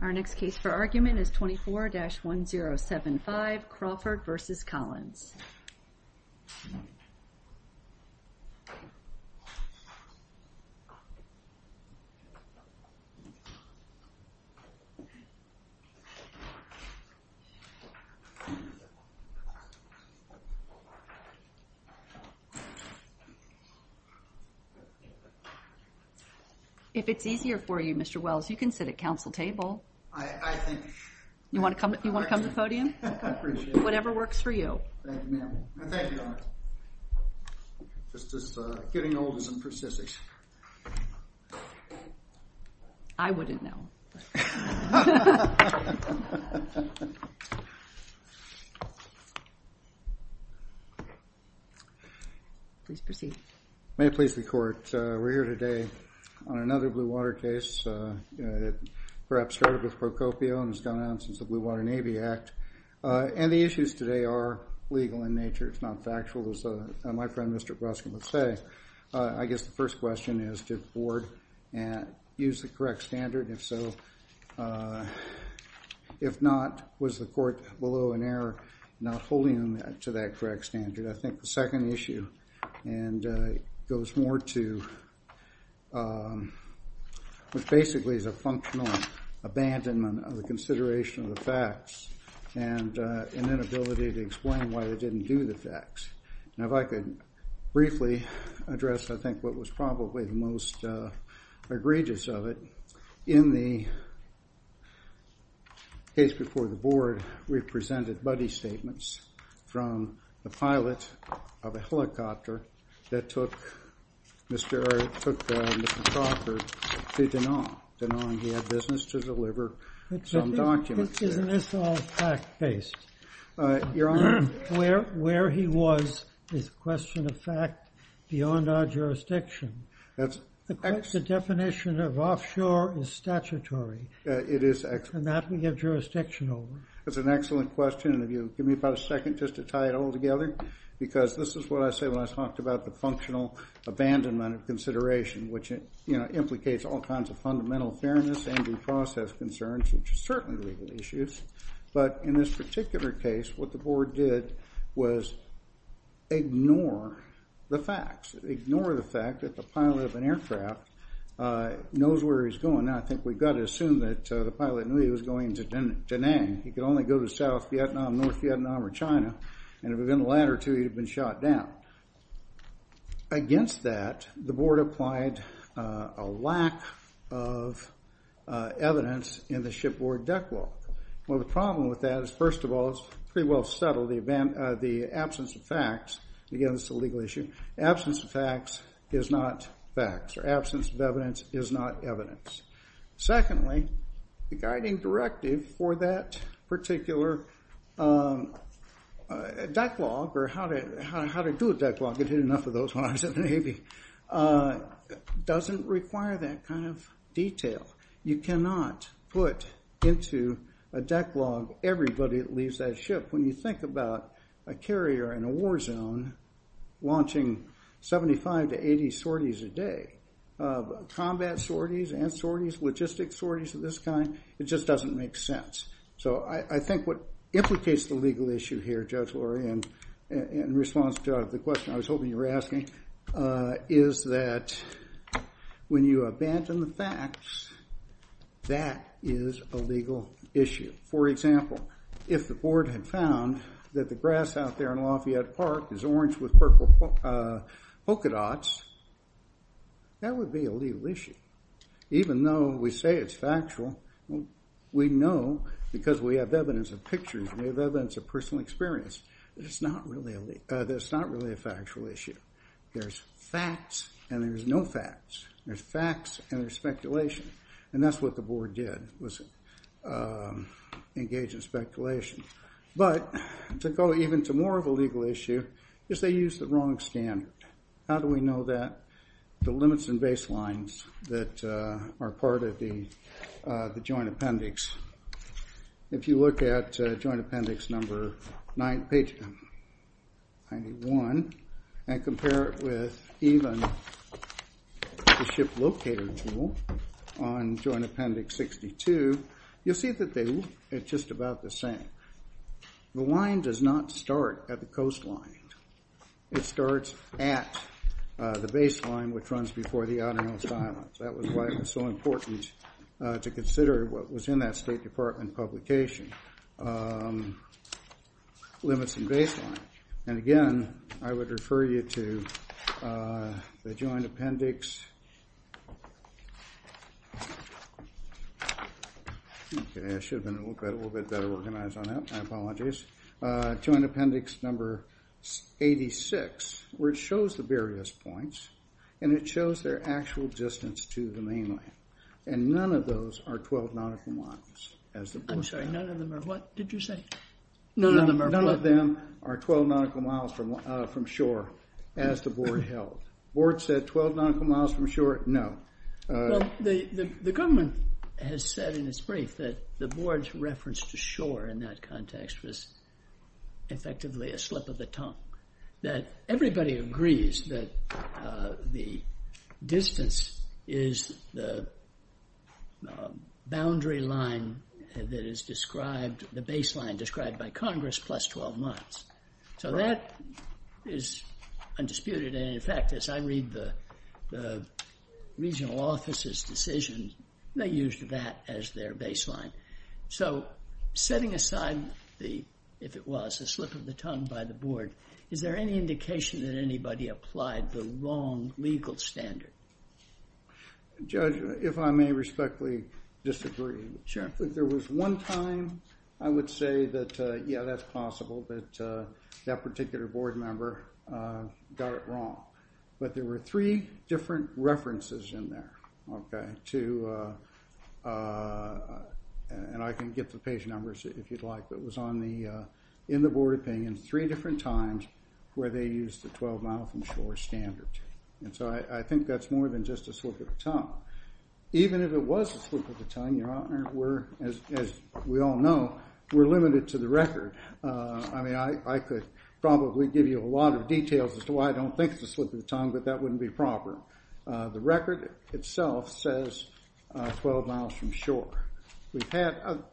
Our next case for argument is 24-1075 Crawford v. Collins If it's easier for you, Mr. Wells, you can sit at council table. I think you want to come to the podium, whatever works for you. I wouldn't know. May I please be court? We're here today on another blue water case. It perhaps started with Procopio and has gone on since the Blue Water Navy Act. And the issues today are legal in nature. It's not factual, as my friend Mr. Breskin would say. I guess the first question is, did the board use the correct standard? If so, if not, was the court below an error not holding them to that correct standard? I think the second issue goes more to what basically is a functional abandonment of the consideration of the facts and an inability to explain why they didn't do the facts. If I could briefly address what was probably the most egregious of it. In the case before the board, we presented buddy statements from the pilot of a helicopter that took Mr. Crawford to Danone. Danone, he had business to deliver some documents there. Isn't this all fact-based? Your Honor. Where he was is a question of fact beyond our jurisdiction. The definition of offshore is statutory. It is. And that we give jurisdiction over. That's an excellent question. And if you'll give me about a second just to tie it all together. Because this is what I say when I talked about the functional abandonment of consideration, which implicates all kinds of fundamental fairness and due process concerns, which are certainly legal issues. But in this particular case, what the board did was ignore the facts. Ignore the fact that the pilot of an aircraft knows where he's going. Now, I think we've got to assume that the pilot knew he was going to Danone. He could only go to South Vietnam, North Vietnam, or China. And if it had been the latter two, he would have been shot down. Against that, the board applied a lack of evidence in the shipboard deck wall. Well, the problem with that is, first of all, it's pretty well settled, the absence of facts. Again, this is a legal issue. The absence of facts is not facts. Or absence of evidence is not evidence. Secondly, the guiding directive for that particular deck log, or how to do a deck log, I did enough of those when I was at the Navy, doesn't require that kind of detail. You cannot put into a deck log everybody that leaves that ship. When you think about a carrier in a war zone launching 75 to 80 sorties a day, combat sorties and logistic sorties of this kind, it just doesn't make sense. So I think what implicates the legal issue here, Judge Lurie, in response to the question I was hoping you were asking, is that when you abandon the facts, that is a legal issue. For example, if the board had found that the grass out there in Lafayette Park is orange with purple polka dots, that would be a legal issue. Even though we say it's factual, we know because we have evidence of pictures and we have evidence of personal experience that it's not really a factual issue. There's facts and there's no facts. There's facts and there's speculation. And that's what the board did, was engage in speculation. But to go even to more of a legal issue is they used the wrong standard. How do we know that? The limits and baselines that are part of the joint appendix. If you look at joint appendix number 91 and compare it with even the ship locator tool on joint appendix 62, you'll see that they look at just about the same. The line does not start at the coastline. It starts at the baseline, which runs before the outermost islands. That was why it was so important to consider what was in that State Department publication, limits and baseline. And, again, I would refer you to the joint appendix. I should have been a little bit better organized on that. My apologies. Joint appendix number 86, where it shows the various points, and it shows their actual distance to the mainland. And none of those are 12 nautical miles. I'm sorry. None of them are what did you say? None of them are 12 nautical miles from shore, as the board held. The board said 12 nautical miles from shore? No. The government has said in its brief that the board's reference to shore in that context was effectively a slip of the tongue, that everybody agrees that the distance is the boundary line that is described, the baseline described by Congress, plus 12 miles. So that is undisputed. And, in fact, as I read the regional office's decision, they used that as their baseline. So setting aside the, if it was, a slip of the tongue by the board, is there any indication that anybody applied the wrong legal standard? Judge, if I may respectfully disagree. Sure. If there was one time, I would say that, yeah, that's possible, that that particular board member got it wrong. But there were three different references in there to, and I can get the page numbers if you'd like, but it was in the board opinion three different times where they used the 12 miles from shore standard. And so I think that's more than just a slip of the tongue. Even if it was a slip of the tongue, Your Honor, we're, as we all know, we're limited to the record. I mean, I could probably give you a lot of details as to why I don't think it's a slip of the tongue, but that wouldn't be proper. The record itself says 12 miles from shore. We've had, I'm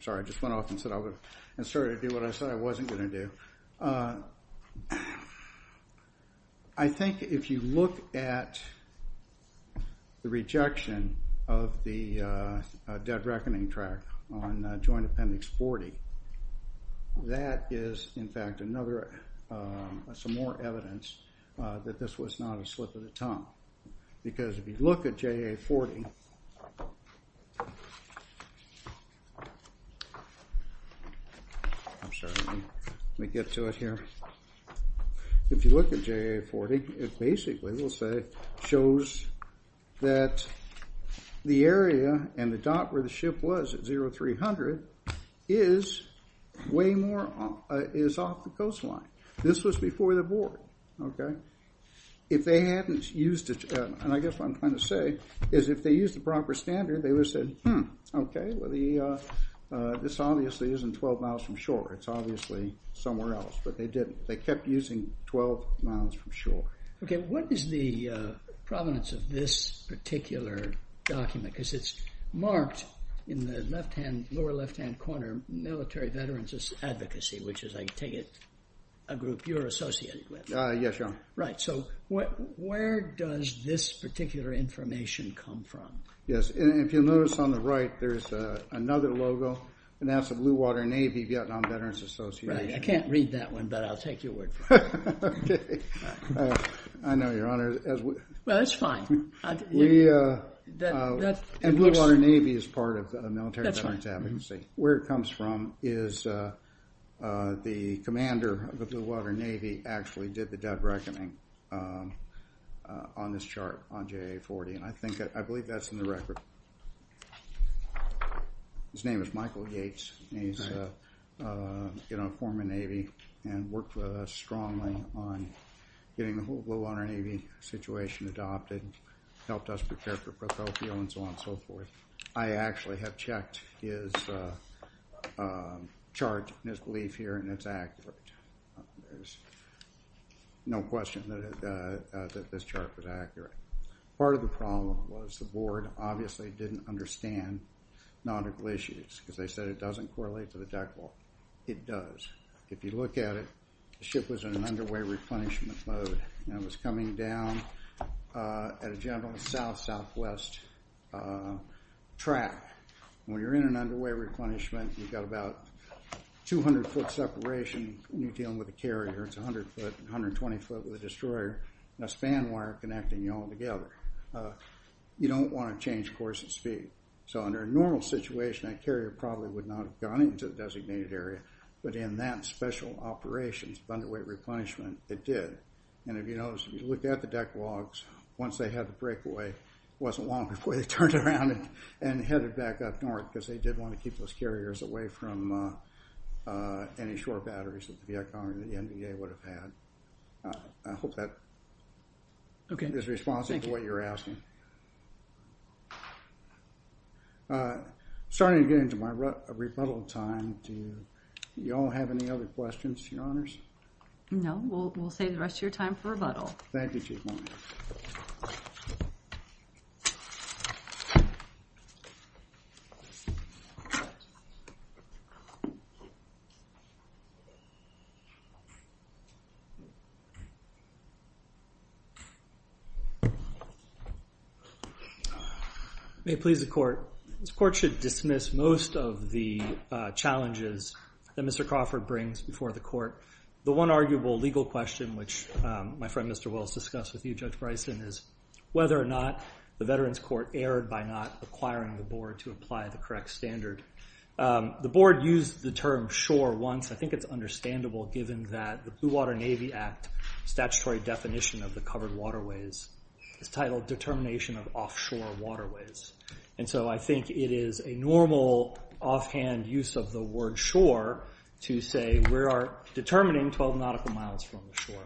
sorry, I just went off and started to do what I said I wasn't going to do. I think if you look at the rejection of the dead reckoning track on Joint Appendix 40, that is, in fact, some more evidence that this was not a slip of the tongue. Because if you look at JA 40, I'm sorry, let me get to it here. If you look at JA 40, it basically, we'll say, shows that the area and the dot where the ship was at 0300 is way more, is off the coastline. This was before the board, okay? If they hadn't used it, and I guess what I'm trying to say is if they used the proper standard, they would have said, hmm, okay, well, this obviously isn't 12 miles from shore. It's obviously somewhere else, but they didn't. They kept using 12 miles from shore. Okay, what is the provenance of this particular document? Because it's marked in the lower left-hand corner, Military Veterans Advocacy, which is, I take it, a group you're associated with. Yes, Your Honor. Right, so where does this particular information come from? Yes, and if you'll notice on the right, there's another logo, and that's the Blue Water Navy Vietnam Veterans Association. Right, I can't read that one, but I'll take your word for it. Okay, I know, Your Honor. Well, that's fine. And Blue Water Navy is part of the Military Veterans Advocacy. Where it comes from is the commander of the Blue Water Navy actually did the dead reckoning on this chart on JA-40, and I believe that's in the record. His name is Michael Gates, and he's in a former Navy and worked strongly on getting the whole Blue Water Navy situation adopted, helped us prepare for Procopio, and so on and so forth. I actually have checked his chart and his belief here, and it's accurate. There's no question that this chart was accurate. Part of the problem was the board obviously didn't understand nautical issues because they said it doesn't correlate to the deck wall. It does. If you look at it, the ship was in an underway replenishment mode and it was coming down at a general south-southwest track. When you're in an underway replenishment, you've got about 200 foot separation when you're dealing with a carrier. It's 100 foot and 120 foot with a destroyer and a span wire connecting you all together. You don't want to change course at speed. So under a normal situation, that carrier probably would not have gone into the designated area, but in that special operations, underweight replenishment, it did. If you look at the deck logs, once they had the breakaway, it wasn't long before they turned around and headed back up north because they did want to keep those carriers away from any short batteries that the Viet Cong or the NVA would have had. I hope that is responsive to what you're asking. I'm starting to get into my rebuttal time. Do you all have any other questions, Your Honors? No, we'll save the rest of your time for rebuttal. Thank you, Chief Mone. May it please the Court. This Court should dismiss most of the challenges that Mr. Crawford brings before the Court. The one arguable legal question, which my friend Mr. Wills discussed with you, Judge Bryson, is whether or not the Veterans Court erred by not acquiring the board to apply the correct standard. The board used the term shore once. I think it's understandable given that the Blue Water Navy Act statutory definition of the covered waterways is titled Determination of Offshore Waterways. And so I think it is a normal offhand use of the word shore to say we are determining 12 nautical miles from the shore.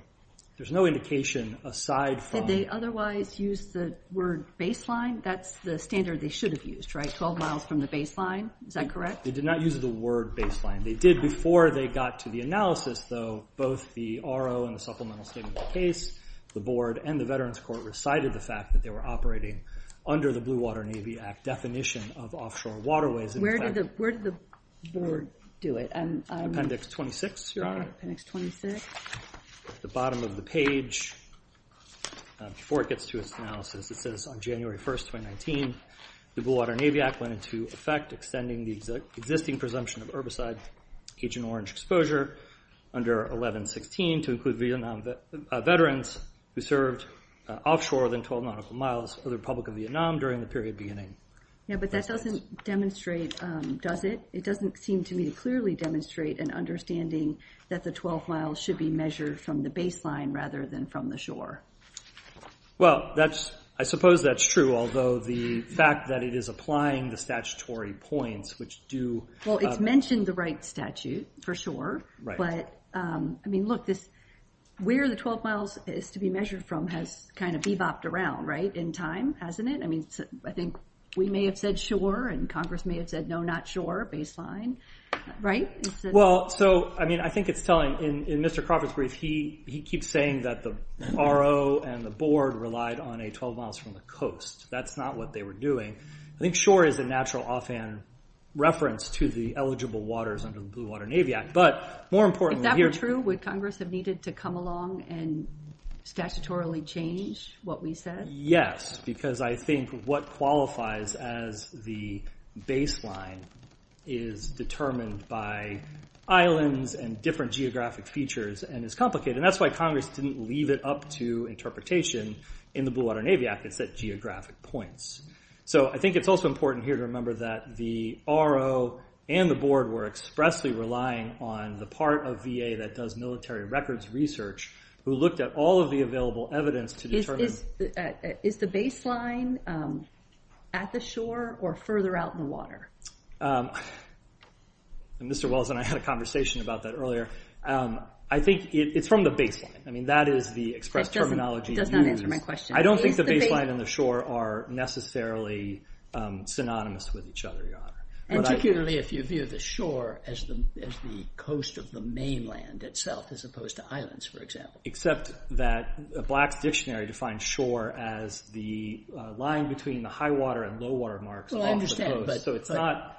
There's no indication aside from... Did they otherwise use the word baseline? That's the standard they should have used, right, 12 miles from the baseline? Is that correct? They did not use the word baseline. They did before they got to the analysis, though, both the RO and the supplemental statement of the case, the board and the Veterans Court recited the fact that they were operating under the Blue Water Navy Act definition of offshore waterways. Where did the board do it? Appendix 26, you're on it. Appendix 26. At the bottom of the page, before it gets to its analysis, it says on January 1, 2019, the Blue Water Navy Act went into effect extending the existing presumption of herbicide, Agent Orange exposure under 1116 to include Vietnam veterans who served offshore more than 12 nautical miles for the Republic of Vietnam during the period beginning. Yeah, but that doesn't demonstrate, does it? It doesn't seem to me to clearly demonstrate an understanding that the 12 miles should be measured from the baseline rather than from the shore. Well, I suppose that's true, although the fact that it is applying the statutory points, which do... Well, it's mentioned the right statute for shore, but, I mean, look, where the 12 miles is to be measured from has kind of bee-bopped around, right, in time, hasn't it? I mean, I think we may have said shore and Congress may have said no, not shore, baseline, right? Well, so, I mean, I think it's telling. In Mr. Crawford's brief, he keeps saying that the RO and the board relied on a 12 miles from the coast. That's not what they were doing. I think shore is a natural offhand reference to the eligible waters under the Blue Water Navy Act, but more importantly here... If that were true, would Congress have needed to come along and statutorily change what we said? Yes, because I think what qualifies as the baseline is determined by islands and different geographic features and is complicated, and that's why Congress didn't leave it up to interpretation in the Blue Water Navy Act. It said geographic points. So I think it's also important here to remember that the RO and the board were expressly relying on the part of VA that does military records research who looked at all of the available evidence to determine... Is the baseline at the shore or further out in the water? Mr. Wells and I had a conversation about that earlier. I think it's from the baseline. I mean, that is the express terminology used. That does not answer my question. I don't think the baseline and the shore are necessarily synonymous with each other, Your Honor. And particularly if you view the shore as the coast of the mainland itself as opposed to islands, for example. Except that Black's Dictionary defines shore as the line between the high water and low water marks along the coast. Well, I understand, but... So it's not...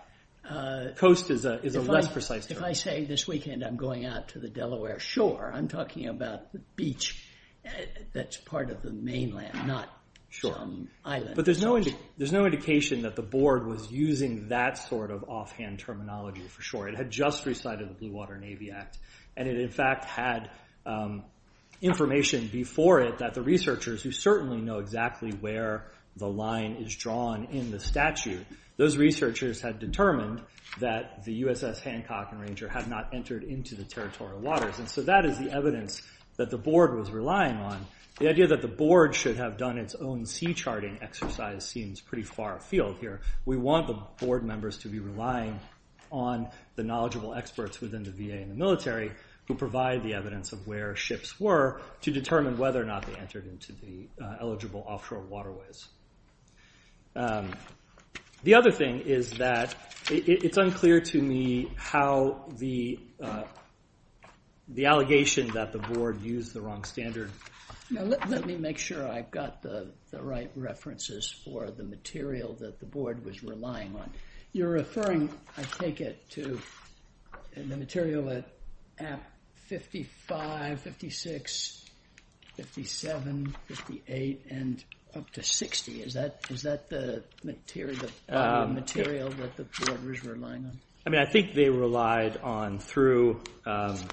Coast is a less precise term. If I say this weekend I'm going out to the Delaware shore, I'm talking about the beach that's part of the mainland, not islands. But there's no indication that the board was using that sort of offhand terminology for shore. It had just recited the Blue Water Navy Act, and it in fact had information before it that the researchers, who certainly know exactly where the line is drawn in the statute, those researchers had determined that the USS Hancock and Ranger had not entered into the territorial waters. And so that is the evidence that the board was relying on. The idea that the board should have done its own sea charting exercise seems pretty far afield here. We want the board members to be relying on the knowledgeable experts within the VA and the military who provide the evidence of where ships were to determine whether or not they entered into the eligible offshore waterways. The other thing is that it's unclear to me how the allegation that the board used the wrong standard... Now, let me make sure I've got the right references for the material that the board was relying on. You're referring, I take it, to the material at 55, 56, 57, 58, and up to 60. Is that the material that the board was relying on? I mean, I think they relied on through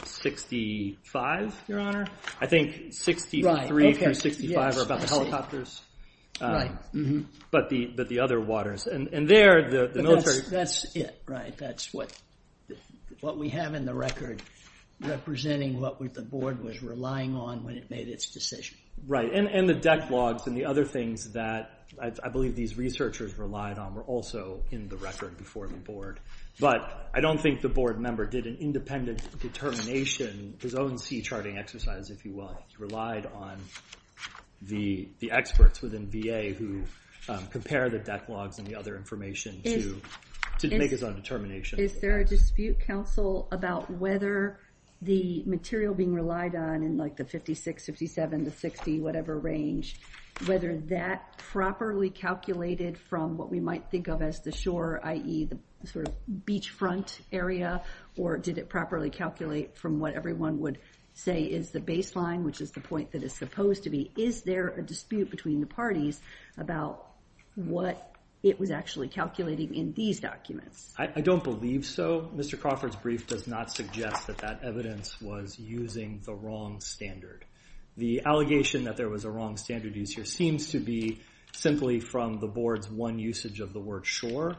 65, Your Honor. I think 63 through 65 are about the helicopters, but the other waters. That's it, right? That's what we have in the record representing what the board was relying on when it made its decision. Right, and the deck logs and the other things that I believe these researchers relied on were also in the record before the board. But I don't think the board member did an independent determination, his own sea charting exercise, if you will. He relied on the experts within VA who compare the deck logs and the other information to make his own determination. Is there a dispute, counsel, about whether the material being relied on in, like, the 56, 57, the 60, whatever range, whether that properly calculated from what we might think of as the shore, i.e., the sort of beachfront area, or did it properly calculate from what everyone would say is the baseline, which is the point that it's supposed to be? Is there a dispute between the parties about what it was actually calculating in these documents? I don't believe so. Mr. Crawford's brief does not suggest that that evidence was using the wrong standard. The allegation that there was a wrong standard used here seems to be simply from the board's one usage of the word shore,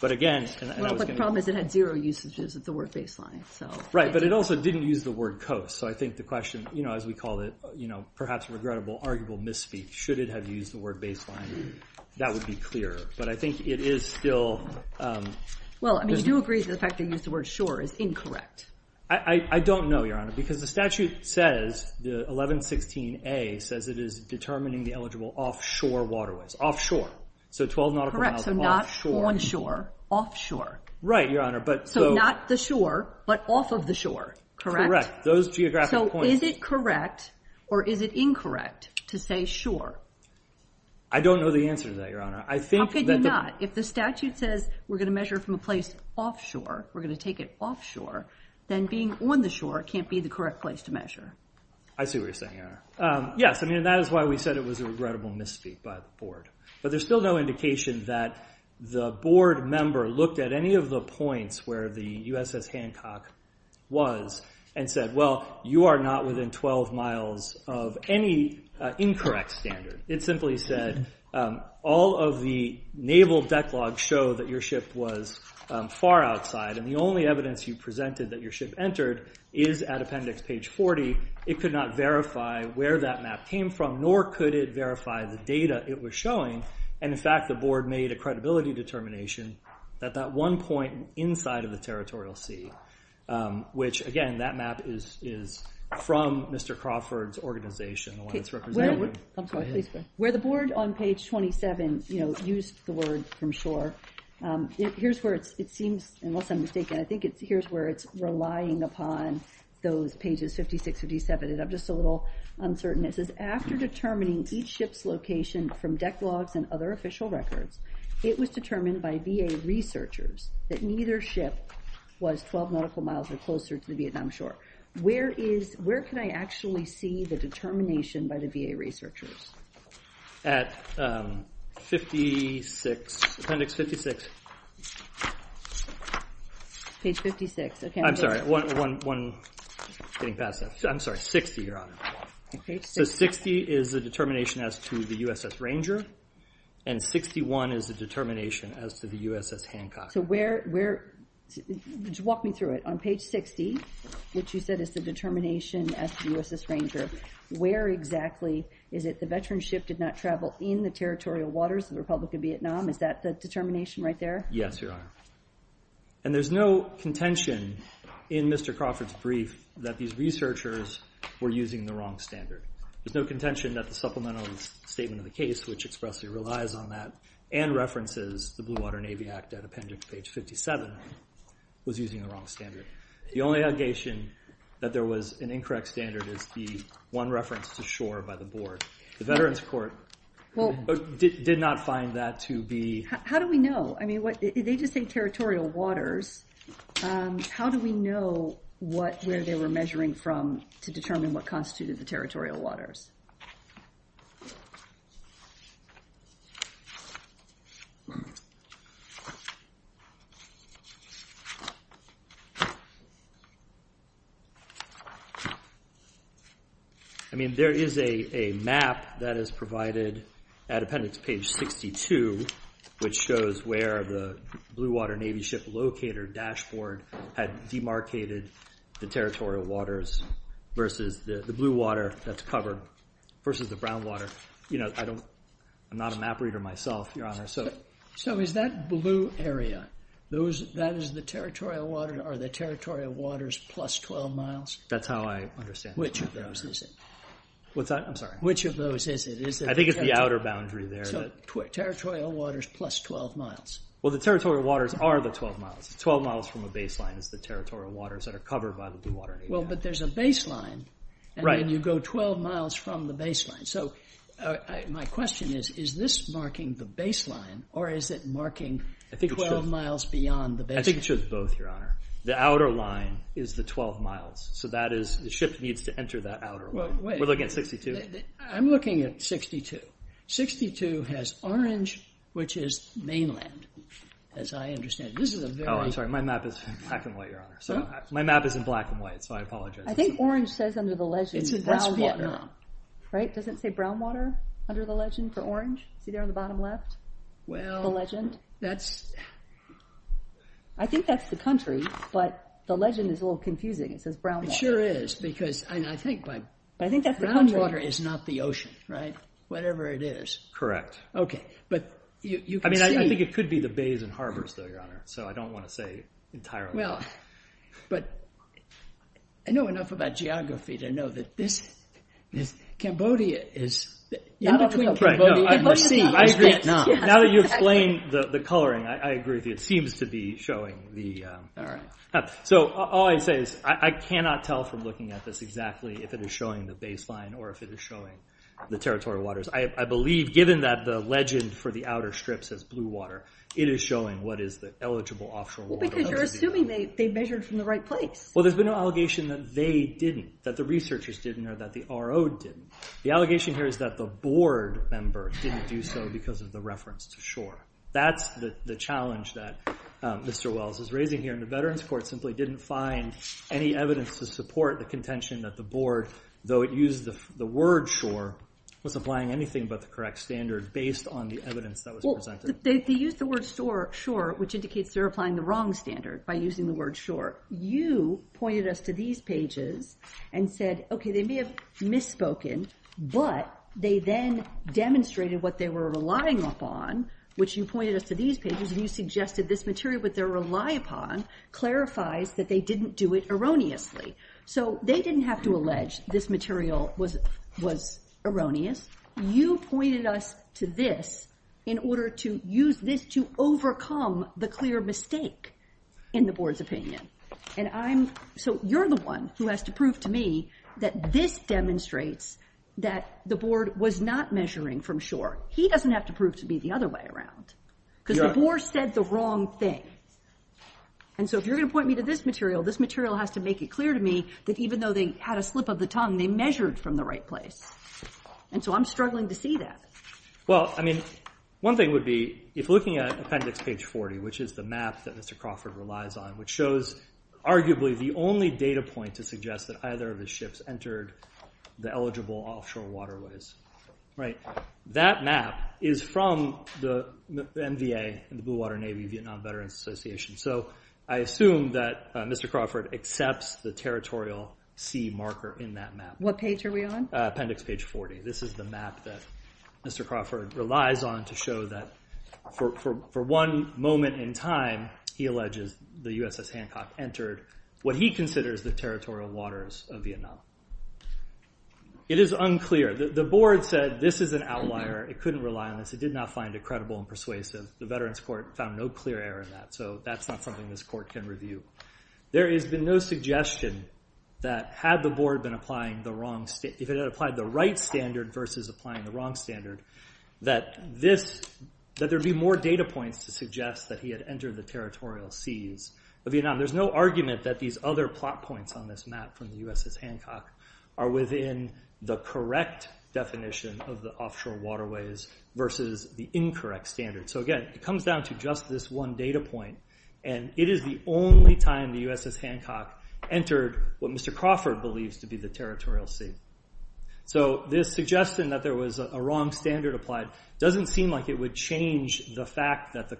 but again... Well, the problem is it had zero usages of the word baseline, so... Right, but it also didn't use the word coast, so I think the question, you know, as we call it, you know, perhaps a regrettable, arguable misspeak, should it have used the word baseline, that would be clearer, but I think it is still... Well, I mean, you do agree that the fact they used the word shore is incorrect. I don't know, Your Honor, because the statute says, the 1116A says it is determining the eligible offshore waterways, offshore, so 12 nautical miles offshore. Correct, so not onshore, offshore. Right, Your Honor, but... So not the shore, but off of the shore, correct? Correct, those geographic points... So is it correct, or is it incorrect, to say shore? I don't know the answer to that, Your Honor. How could you not? If the statute says we're going to measure from a place offshore, we're going to take it offshore, then being on the shore can't be the correct place to measure. I see what you're saying, Your Honor. Yes, I mean, that is why we said it was a regrettable misspeak by the board, but there's still no indication that the board member looked at any of the points where the USS Hancock was and said, well, you are not within 12 miles of any incorrect standard. It simply said, all of the naval deck logs show that your ship was far outside, and the only evidence you presented that your ship entered is at appendix page 40. It could not verify where that map came from, nor could it verify the data it was showing, and in fact, the board made a credibility determination that that one point inside of the territorial sea, which again, that map is from Mr. Crawford's organization, the one it's represented with. Where the board on page 27 used the word from shore, here's where it seems, unless I'm mistaken, I think here's where it's relying upon those pages, 56, 57, and I'm just a little uncertain. It says, after determining each ship's location from deck logs and other official records, it was determined by VA researchers that neither ship was 12 nautical miles or closer to the Vietnam shore. Where can I actually see the determination by the VA researchers? At 56, appendix 56. Page 56. I'm sorry, getting past that. I'm sorry, 60, Your Honor. So 60 is the determination as to the USS Ranger, and 61 is the determination as to the USS Hancock. So where... walk me through it. On page 60, what you said is the determination as to the USS Ranger. Where exactly is it the veteran ship did not travel in the territorial waters of the Republic of Vietnam? Is that the determination right there? Yes, Your Honor. And there's no contention in Mr. Crawford's brief that these researchers were using the wrong standard. There's no contention that the supplemental statement in the case, which expressly relies on that and references the Blue Water Navy Act at appendix page 57, was using the wrong standard. The only allegation that there was an incorrect standard is the one reference to shore by the board. The Veterans Court did not find that to be... How do we know? I mean, they just say territorial waters. How do we know where they were measuring from to determine what constituted the territorial waters? I mean, there is a map that is provided at appendix page 62, which shows where the Blue Water Navy ship locator dashboard had demarcated the territorial waters versus the blue water that's covered versus the brown water. You know, I don't know if that's true. I'm not a map reader myself, Your Honor. So is that blue area, that is the territorial water or the territorial waters plus 12 miles? That's how I understand it. Which of those is it? What's that? I'm sorry. Which of those is it? I think it's the outer boundary there. So territorial waters plus 12 miles. Well, the territorial waters are the 12 miles. 12 miles from a baseline is the territorial waters that are covered by the Blue Water Navy. Well, but there's a baseline. Right. And then you go 12 miles from the baseline. So my question is, is this marking the baseline or is it marking 12 miles beyond the baseline? I think it shows both, Your Honor. The outer line is the 12 miles. So that is, the ship needs to enter that outer line. We're looking at 62? I'm looking at 62. 62 has orange, which is mainland, as I understand it. This is a very... Oh, I'm sorry. My map is in black and white, Your Honor. My map is in black and white, so I apologize. I think orange says under the legend, and brown water. Right, doesn't it say brown water under the legend for orange? See there on the bottom left? The legend? Well, that's... I think that's the country, but the legend is a little confusing. It says brown water. It sure is, because I think by... But I think that's the country. Brown water is not the ocean, right? Whatever it is. Correct. Okay, but you can see... I mean, I think it could be the bays and harbors, though, Your Honor, so I don't want to say entirely. Well, but I know enough about geography to know that this... Cambodia is... In between Cambodia and the sea. I agree. Now that you explained the coloring, I agree with you. It seems to be showing the... All right. So all I say is I cannot tell from looking at this exactly if it is showing the baseline or if it is showing the territorial waters. I believe, given that the legend for the outer strips says blue water, it is showing what is the eligible offshore water. Well, because you're assuming they measured from the right place. Well, there's been no allegation that they didn't, that the researchers didn't, or that the RO didn't. The allegation here is that the board member didn't do so because of the reference to shore. That's the challenge that Mr. Wells is raising here, and the Veterans Court simply didn't find any evidence to support the contention that the board, though it used the word shore, was applying anything but the correct standard based on the evidence that was presented. Well, they used the word shore, which indicates they're applying the wrong standard by using the word shore. You pointed us to these pages and said, okay, they may have misspoken, but they then demonstrated what they were relying upon, which you pointed us to these pages, and you suggested this material that they rely upon clarifies that they didn't do it erroneously. So they didn't have to allege this material was erroneous. You pointed us to this in order to use this to overcome the clear mistake in the board's opinion. And so you're the one who has to prove to me that this demonstrates that the board was not measuring from shore. He doesn't have to prove to me the other way around because the board said the wrong thing. And so if you're going to point me to this material, this material has to make it clear to me that even though they had a slip of the tongue, they measured from the right place. And so I'm struggling to see that. Well, I mean, one thing would be, if looking at appendix page 40, which is the map that Mr. Crawford relies on, which shows arguably the only data point to suggest that either of his ships entered the eligible offshore waterways, right, that map is from the NVA, the Blue Water Navy Vietnam Veterans Association. So I assume that Mr. Crawford accepts the territorial sea marker in that map. What page are we on? Appendix page 40. This is the map that Mr. Crawford relies on to show that for one moment in time, he alleges the USS Hancock entered what he considers the territorial waters of Vietnam. It is unclear. The board said this is an outlier. It couldn't rely on this. It did not find it credible and persuasive. The Veterans Court found no clear error in that, so that's not something this court can review. There has been no suggestion that had the board been applying the wrong... applied the right standard versus applying the wrong standard, that there'd be more data points to suggest that he had entered the territorial seas of Vietnam. There's no argument that these other plot points on this map from the USS Hancock are within the correct definition of the offshore waterways versus the incorrect standard. So again, it comes down to just this one data point, and it is the only time the USS Hancock entered what Mr. Crawford believes to be the territorial sea. So this suggestion that there was a wrong standard applied doesn't seem like it would change the fact that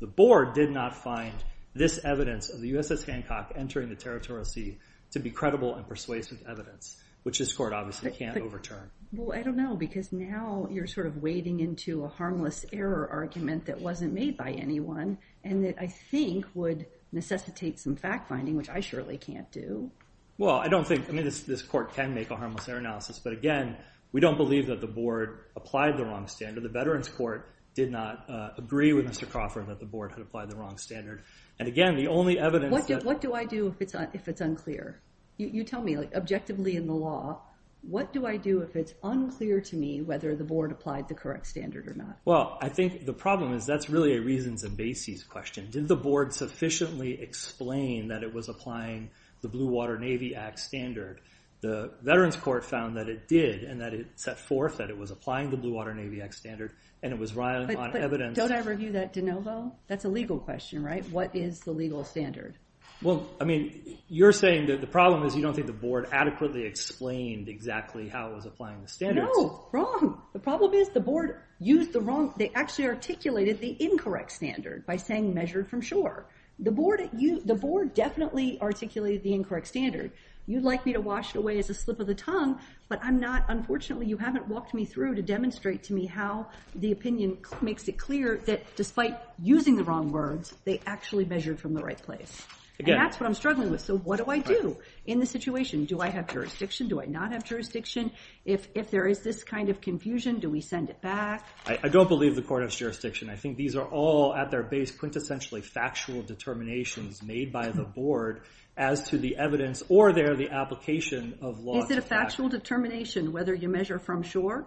the board did not find this evidence of the USS Hancock entering the territorial sea to be credible and persuasive evidence, which this court obviously can't overturn. Well, I don't know, because now you're sort of wading into a harmless error argument that wasn't made by anyone and that I think would necessitate some fact-finding, which I surely can't do. Well, I don't think... I mean, this court can make a harmless error analysis, but again, we don't believe that the board applied the wrong standard. The Veterans Court did not agree with Mr. Crawford that the board had applied the wrong standard. And again, the only evidence that... What do I do if it's unclear? You tell me, like, objectively in the law, what do I do if it's unclear to me whether the board applied the correct standard or not? Well, I think the problem is that's really a reasons and bases question. Did the board sufficiently explain that it was applying the Blue Water Navy Act standard? The Veterans Court found that it did and that it set forth that it was applying the Blue Water Navy Act standard, and it was riling on evidence... But don't I review that de novo? That's a legal question, right? What is the legal standard? Well, I mean, you're saying that the problem is you don't think the board adequately explained exactly how it was applying the standards. No, wrong. The problem is the board used the wrong... They actually articulated the incorrect standard by saying measured from shore. The board definitely articulated the incorrect standard. You'd like me to wash it away as a slip of the tongue, but I'm not... Unfortunately, you haven't walked me through to demonstrate to me how the opinion makes it clear that despite using the wrong words, they actually measured from the right place. And that's what I'm struggling with. So what do I do in this situation? Do I have jurisdiction? Do I not have jurisdiction? If there is this kind of confusion, do we send it back? I don't believe the court has jurisdiction. I think these are all, at their base, quintessentially factual determinations made by the board as to the evidence or their application of law to fact. Is it a factual determination whether you measure from shore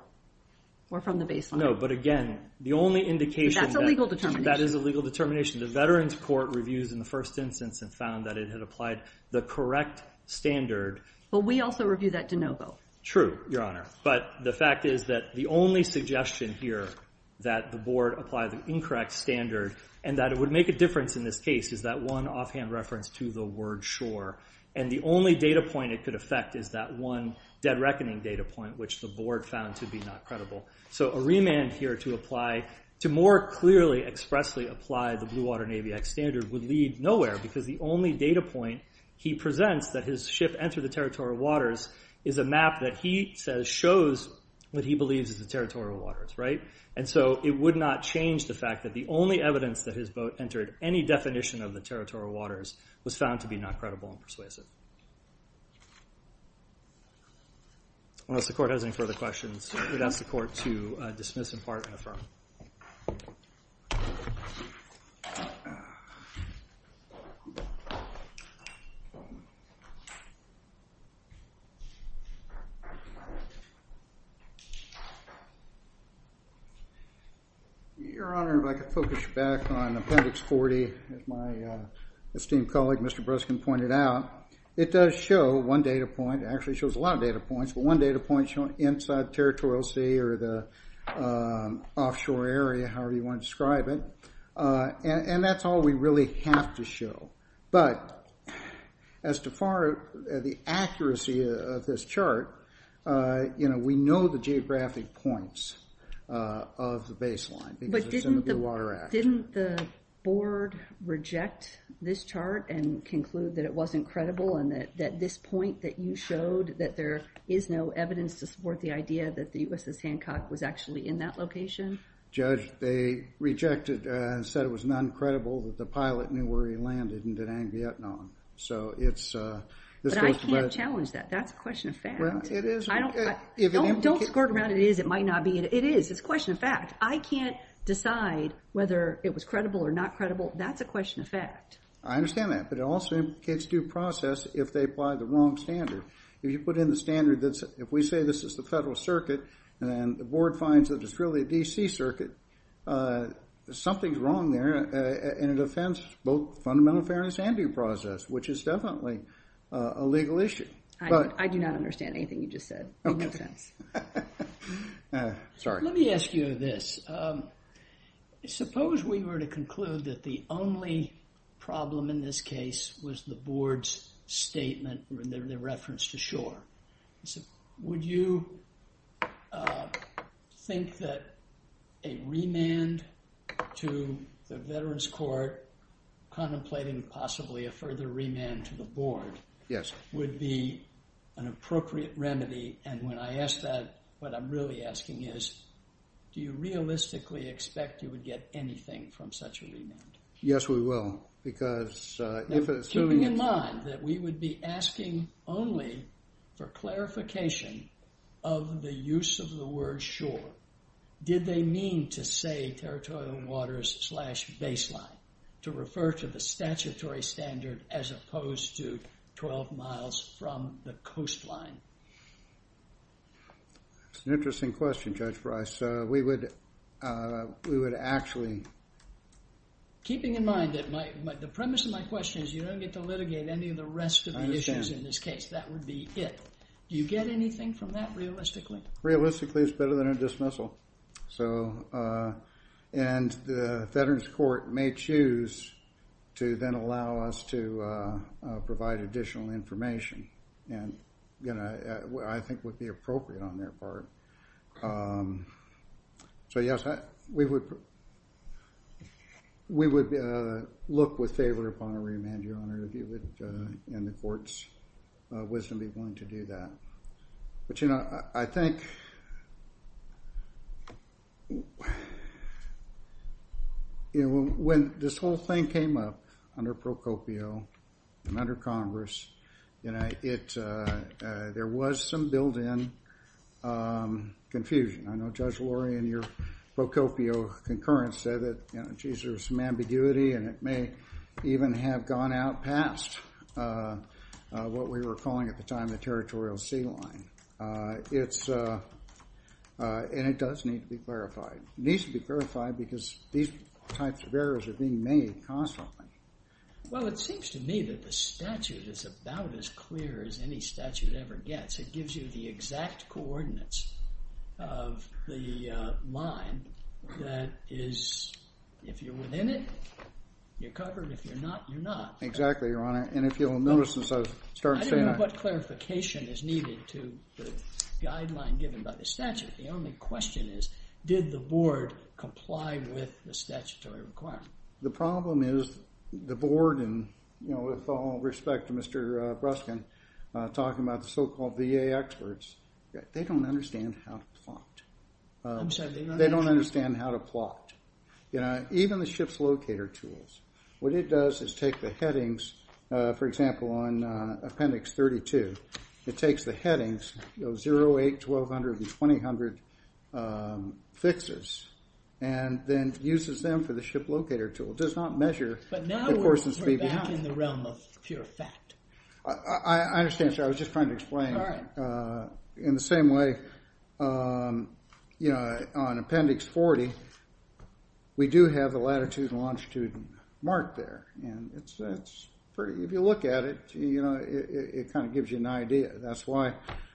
or from the baseline? No, but again, the only indication... That's a legal determination. That is a legal determination. The Veterans Court reviews in the first instance and found that it had applied the correct standard. But we also review that de novo. True, Your Honor. But the fact is that the only suggestion here that the board applied the incorrect standard and that it would make a difference in this case is that one offhand reference to the word shore. And the only data point it could affect is that one dead reckoning data point which the board found to be not credible. So a remand here to apply, to more clearly expressly apply the Blue Water Navy Act standard would lead nowhere because the only data point he presents that his ship entered the territorial waters is a map that he says shows what he believes is the territorial waters, right? And so it would not change the fact that the only evidence that his boat entered any definition of the territorial waters was found to be not credible and persuasive. Unless the court has any further questions, we'd ask the court to dismiss in part and affirm. Your Honor, if I could focus you back on Appendix 40, as my esteemed colleague, Mr. Breskin, pointed out. It does show one data point. It actually shows a lot of data points, but one data point showing inside territorial sea or the offshore area, however you want to describe it. And that's all we really have to show. But as to the accuracy of this chart, we know the geographic points of the baseline because it's in the Blue Water Act. But didn't the board reject this chart and conclude that it wasn't credible and that this point that you showed that there is no evidence to support the idea that the USS Hancock was actually in that location? Judge, they rejected and said it was not credible that the pilot knew where he landed in Da Nang, Vietnam. So it's... But I can't challenge that. That's a question of fact. Well, it is. Don't squirt around it is, it might not be. It is. It's a question of fact. I can't decide whether it was credible or not credible. That's a question of fact. I understand that, but it also indicates due process if they apply the wrong standard. If you put in the standard that's... If we say this is the federal circuit and the board finds that it's really a D.C. circuit, something's wrong there, and it offends both fundamental fairness and due process, which is definitely a legal issue. I do not understand anything you just said. Okay. Sorry. Let me ask you this. Suppose we were to conclude that the only problem in this case was the board's statement, their reference to shore. Would you think that a remand to the Veterans Court contemplating possibly a further remand to the board... ...would be an appropriate remedy? And when I ask that, what I'm really asking is, do you realistically expect you would get anything from such a remand? Yes, we will, because... Keeping in mind that we would be asking only for clarification of the use of the word shore, did they mean to say territorial waters slash baseline to refer to the statutory standard as opposed to 12 miles from the coastline? That's an interesting question, Judge Bryce. We would actually... Keeping in mind that the premise of my question is you don't get to litigate any of the rest of the issues in this case. I understand. That would be it. Do you get anything from that realistically? Realistically, it's better than a dismissal. And the Veterans Court may choose to then allow us to provide additional information, and I think would be appropriate on their part. So, yes, we would look with favor upon a remand, Your Honor, if you would, in the court's wisdom, be willing to do that. But, you know, I think... You know, when this whole thing came up under Pro Copio and under Congress, you know, there was some built-in confusion. I know Judge Lori, in your Pro Copio concurrence, said that, you know, geez, there was some ambiguity, and it may even have gone out past what we were calling at the time the territorial sea line. It's... And it does need to be clarified. It needs to be clarified because these types of errors are being made constantly. Well, it seems to me that the statute is about as clear as any statute ever gets. It gives you the exact coordinates of the line that is... If you're within it, you're covered. If you're not, you're not. Exactly, Your Honor. And if you'll notice, since I was starting to say that... I don't know what clarification is needed to the guideline given by the statute. The only question is, did the board comply with the statutory requirement? The problem is the board, and, you know, with all respect to Mr. Bruskin, talking about the so-called VA experts, they don't understand how to plot. I'm sorry, they don't understand... They don't understand how to plot. You know, even the ship's locator tools. What it does is take the headings, for example, on Appendix 32, it takes the headings, those 0, 8, 1,200, and 2,800 fixes, and then uses them for the ship locator tool. It does not measure... But now we're back in the realm of pure fact. I understand, sir. I was just trying to explain. All right. In the same way, you know, on Appendix 40, we do have the latitude and longitude marked there, and it's pretty... If you look at it, you know, it kind of gives you an idea. That's why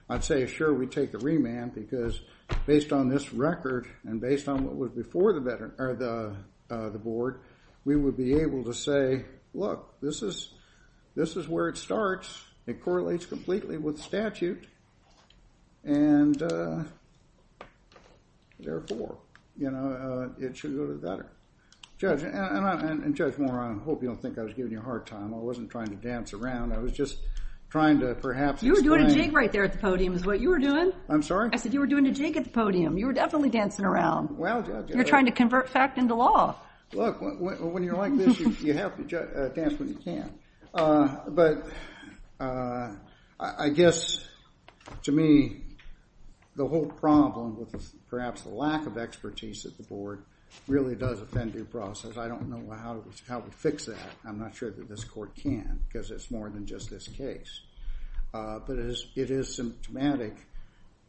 I'd say, sure, we'd take the remand, because based on this record and based on what was before the board, we would be able to say, look, this is where it starts. It correlates completely with statute, and therefore, you know, it should go to the veteran. Judge, and Judge Moore, I hope you don't think I was giving you a hard time. I wasn't trying to dance around. I was just trying to perhaps explain... You were doing a jig right there at the podium, is what you were doing. I'm sorry? I said you were doing a jig at the podium. You were definitely dancing around. You're trying to convert fact into law. Look, when you're like this, you have to dance when you can. But I guess, to me, the whole problem with perhaps the lack of expertise at the board really does offend due process. I don't know how to fix that. I'm not sure that this court can, because it's more than just this case. But it is symptomatic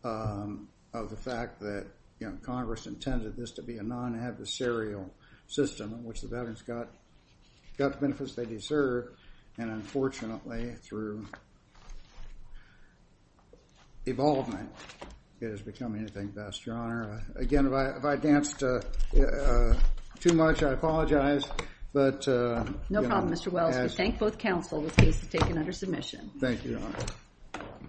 of the fact that, you know, Congress intended this to be a non-adversarial system in which the veterans got the benefits they deserve, and unfortunately, through... ...evolvement, it has become anything but. Yes, Your Honor. Again, if I danced too much, I apologize, but... No problem, Mr. Wells. We thank both counsel. This case is taken under submission. Thank you, Your Honor.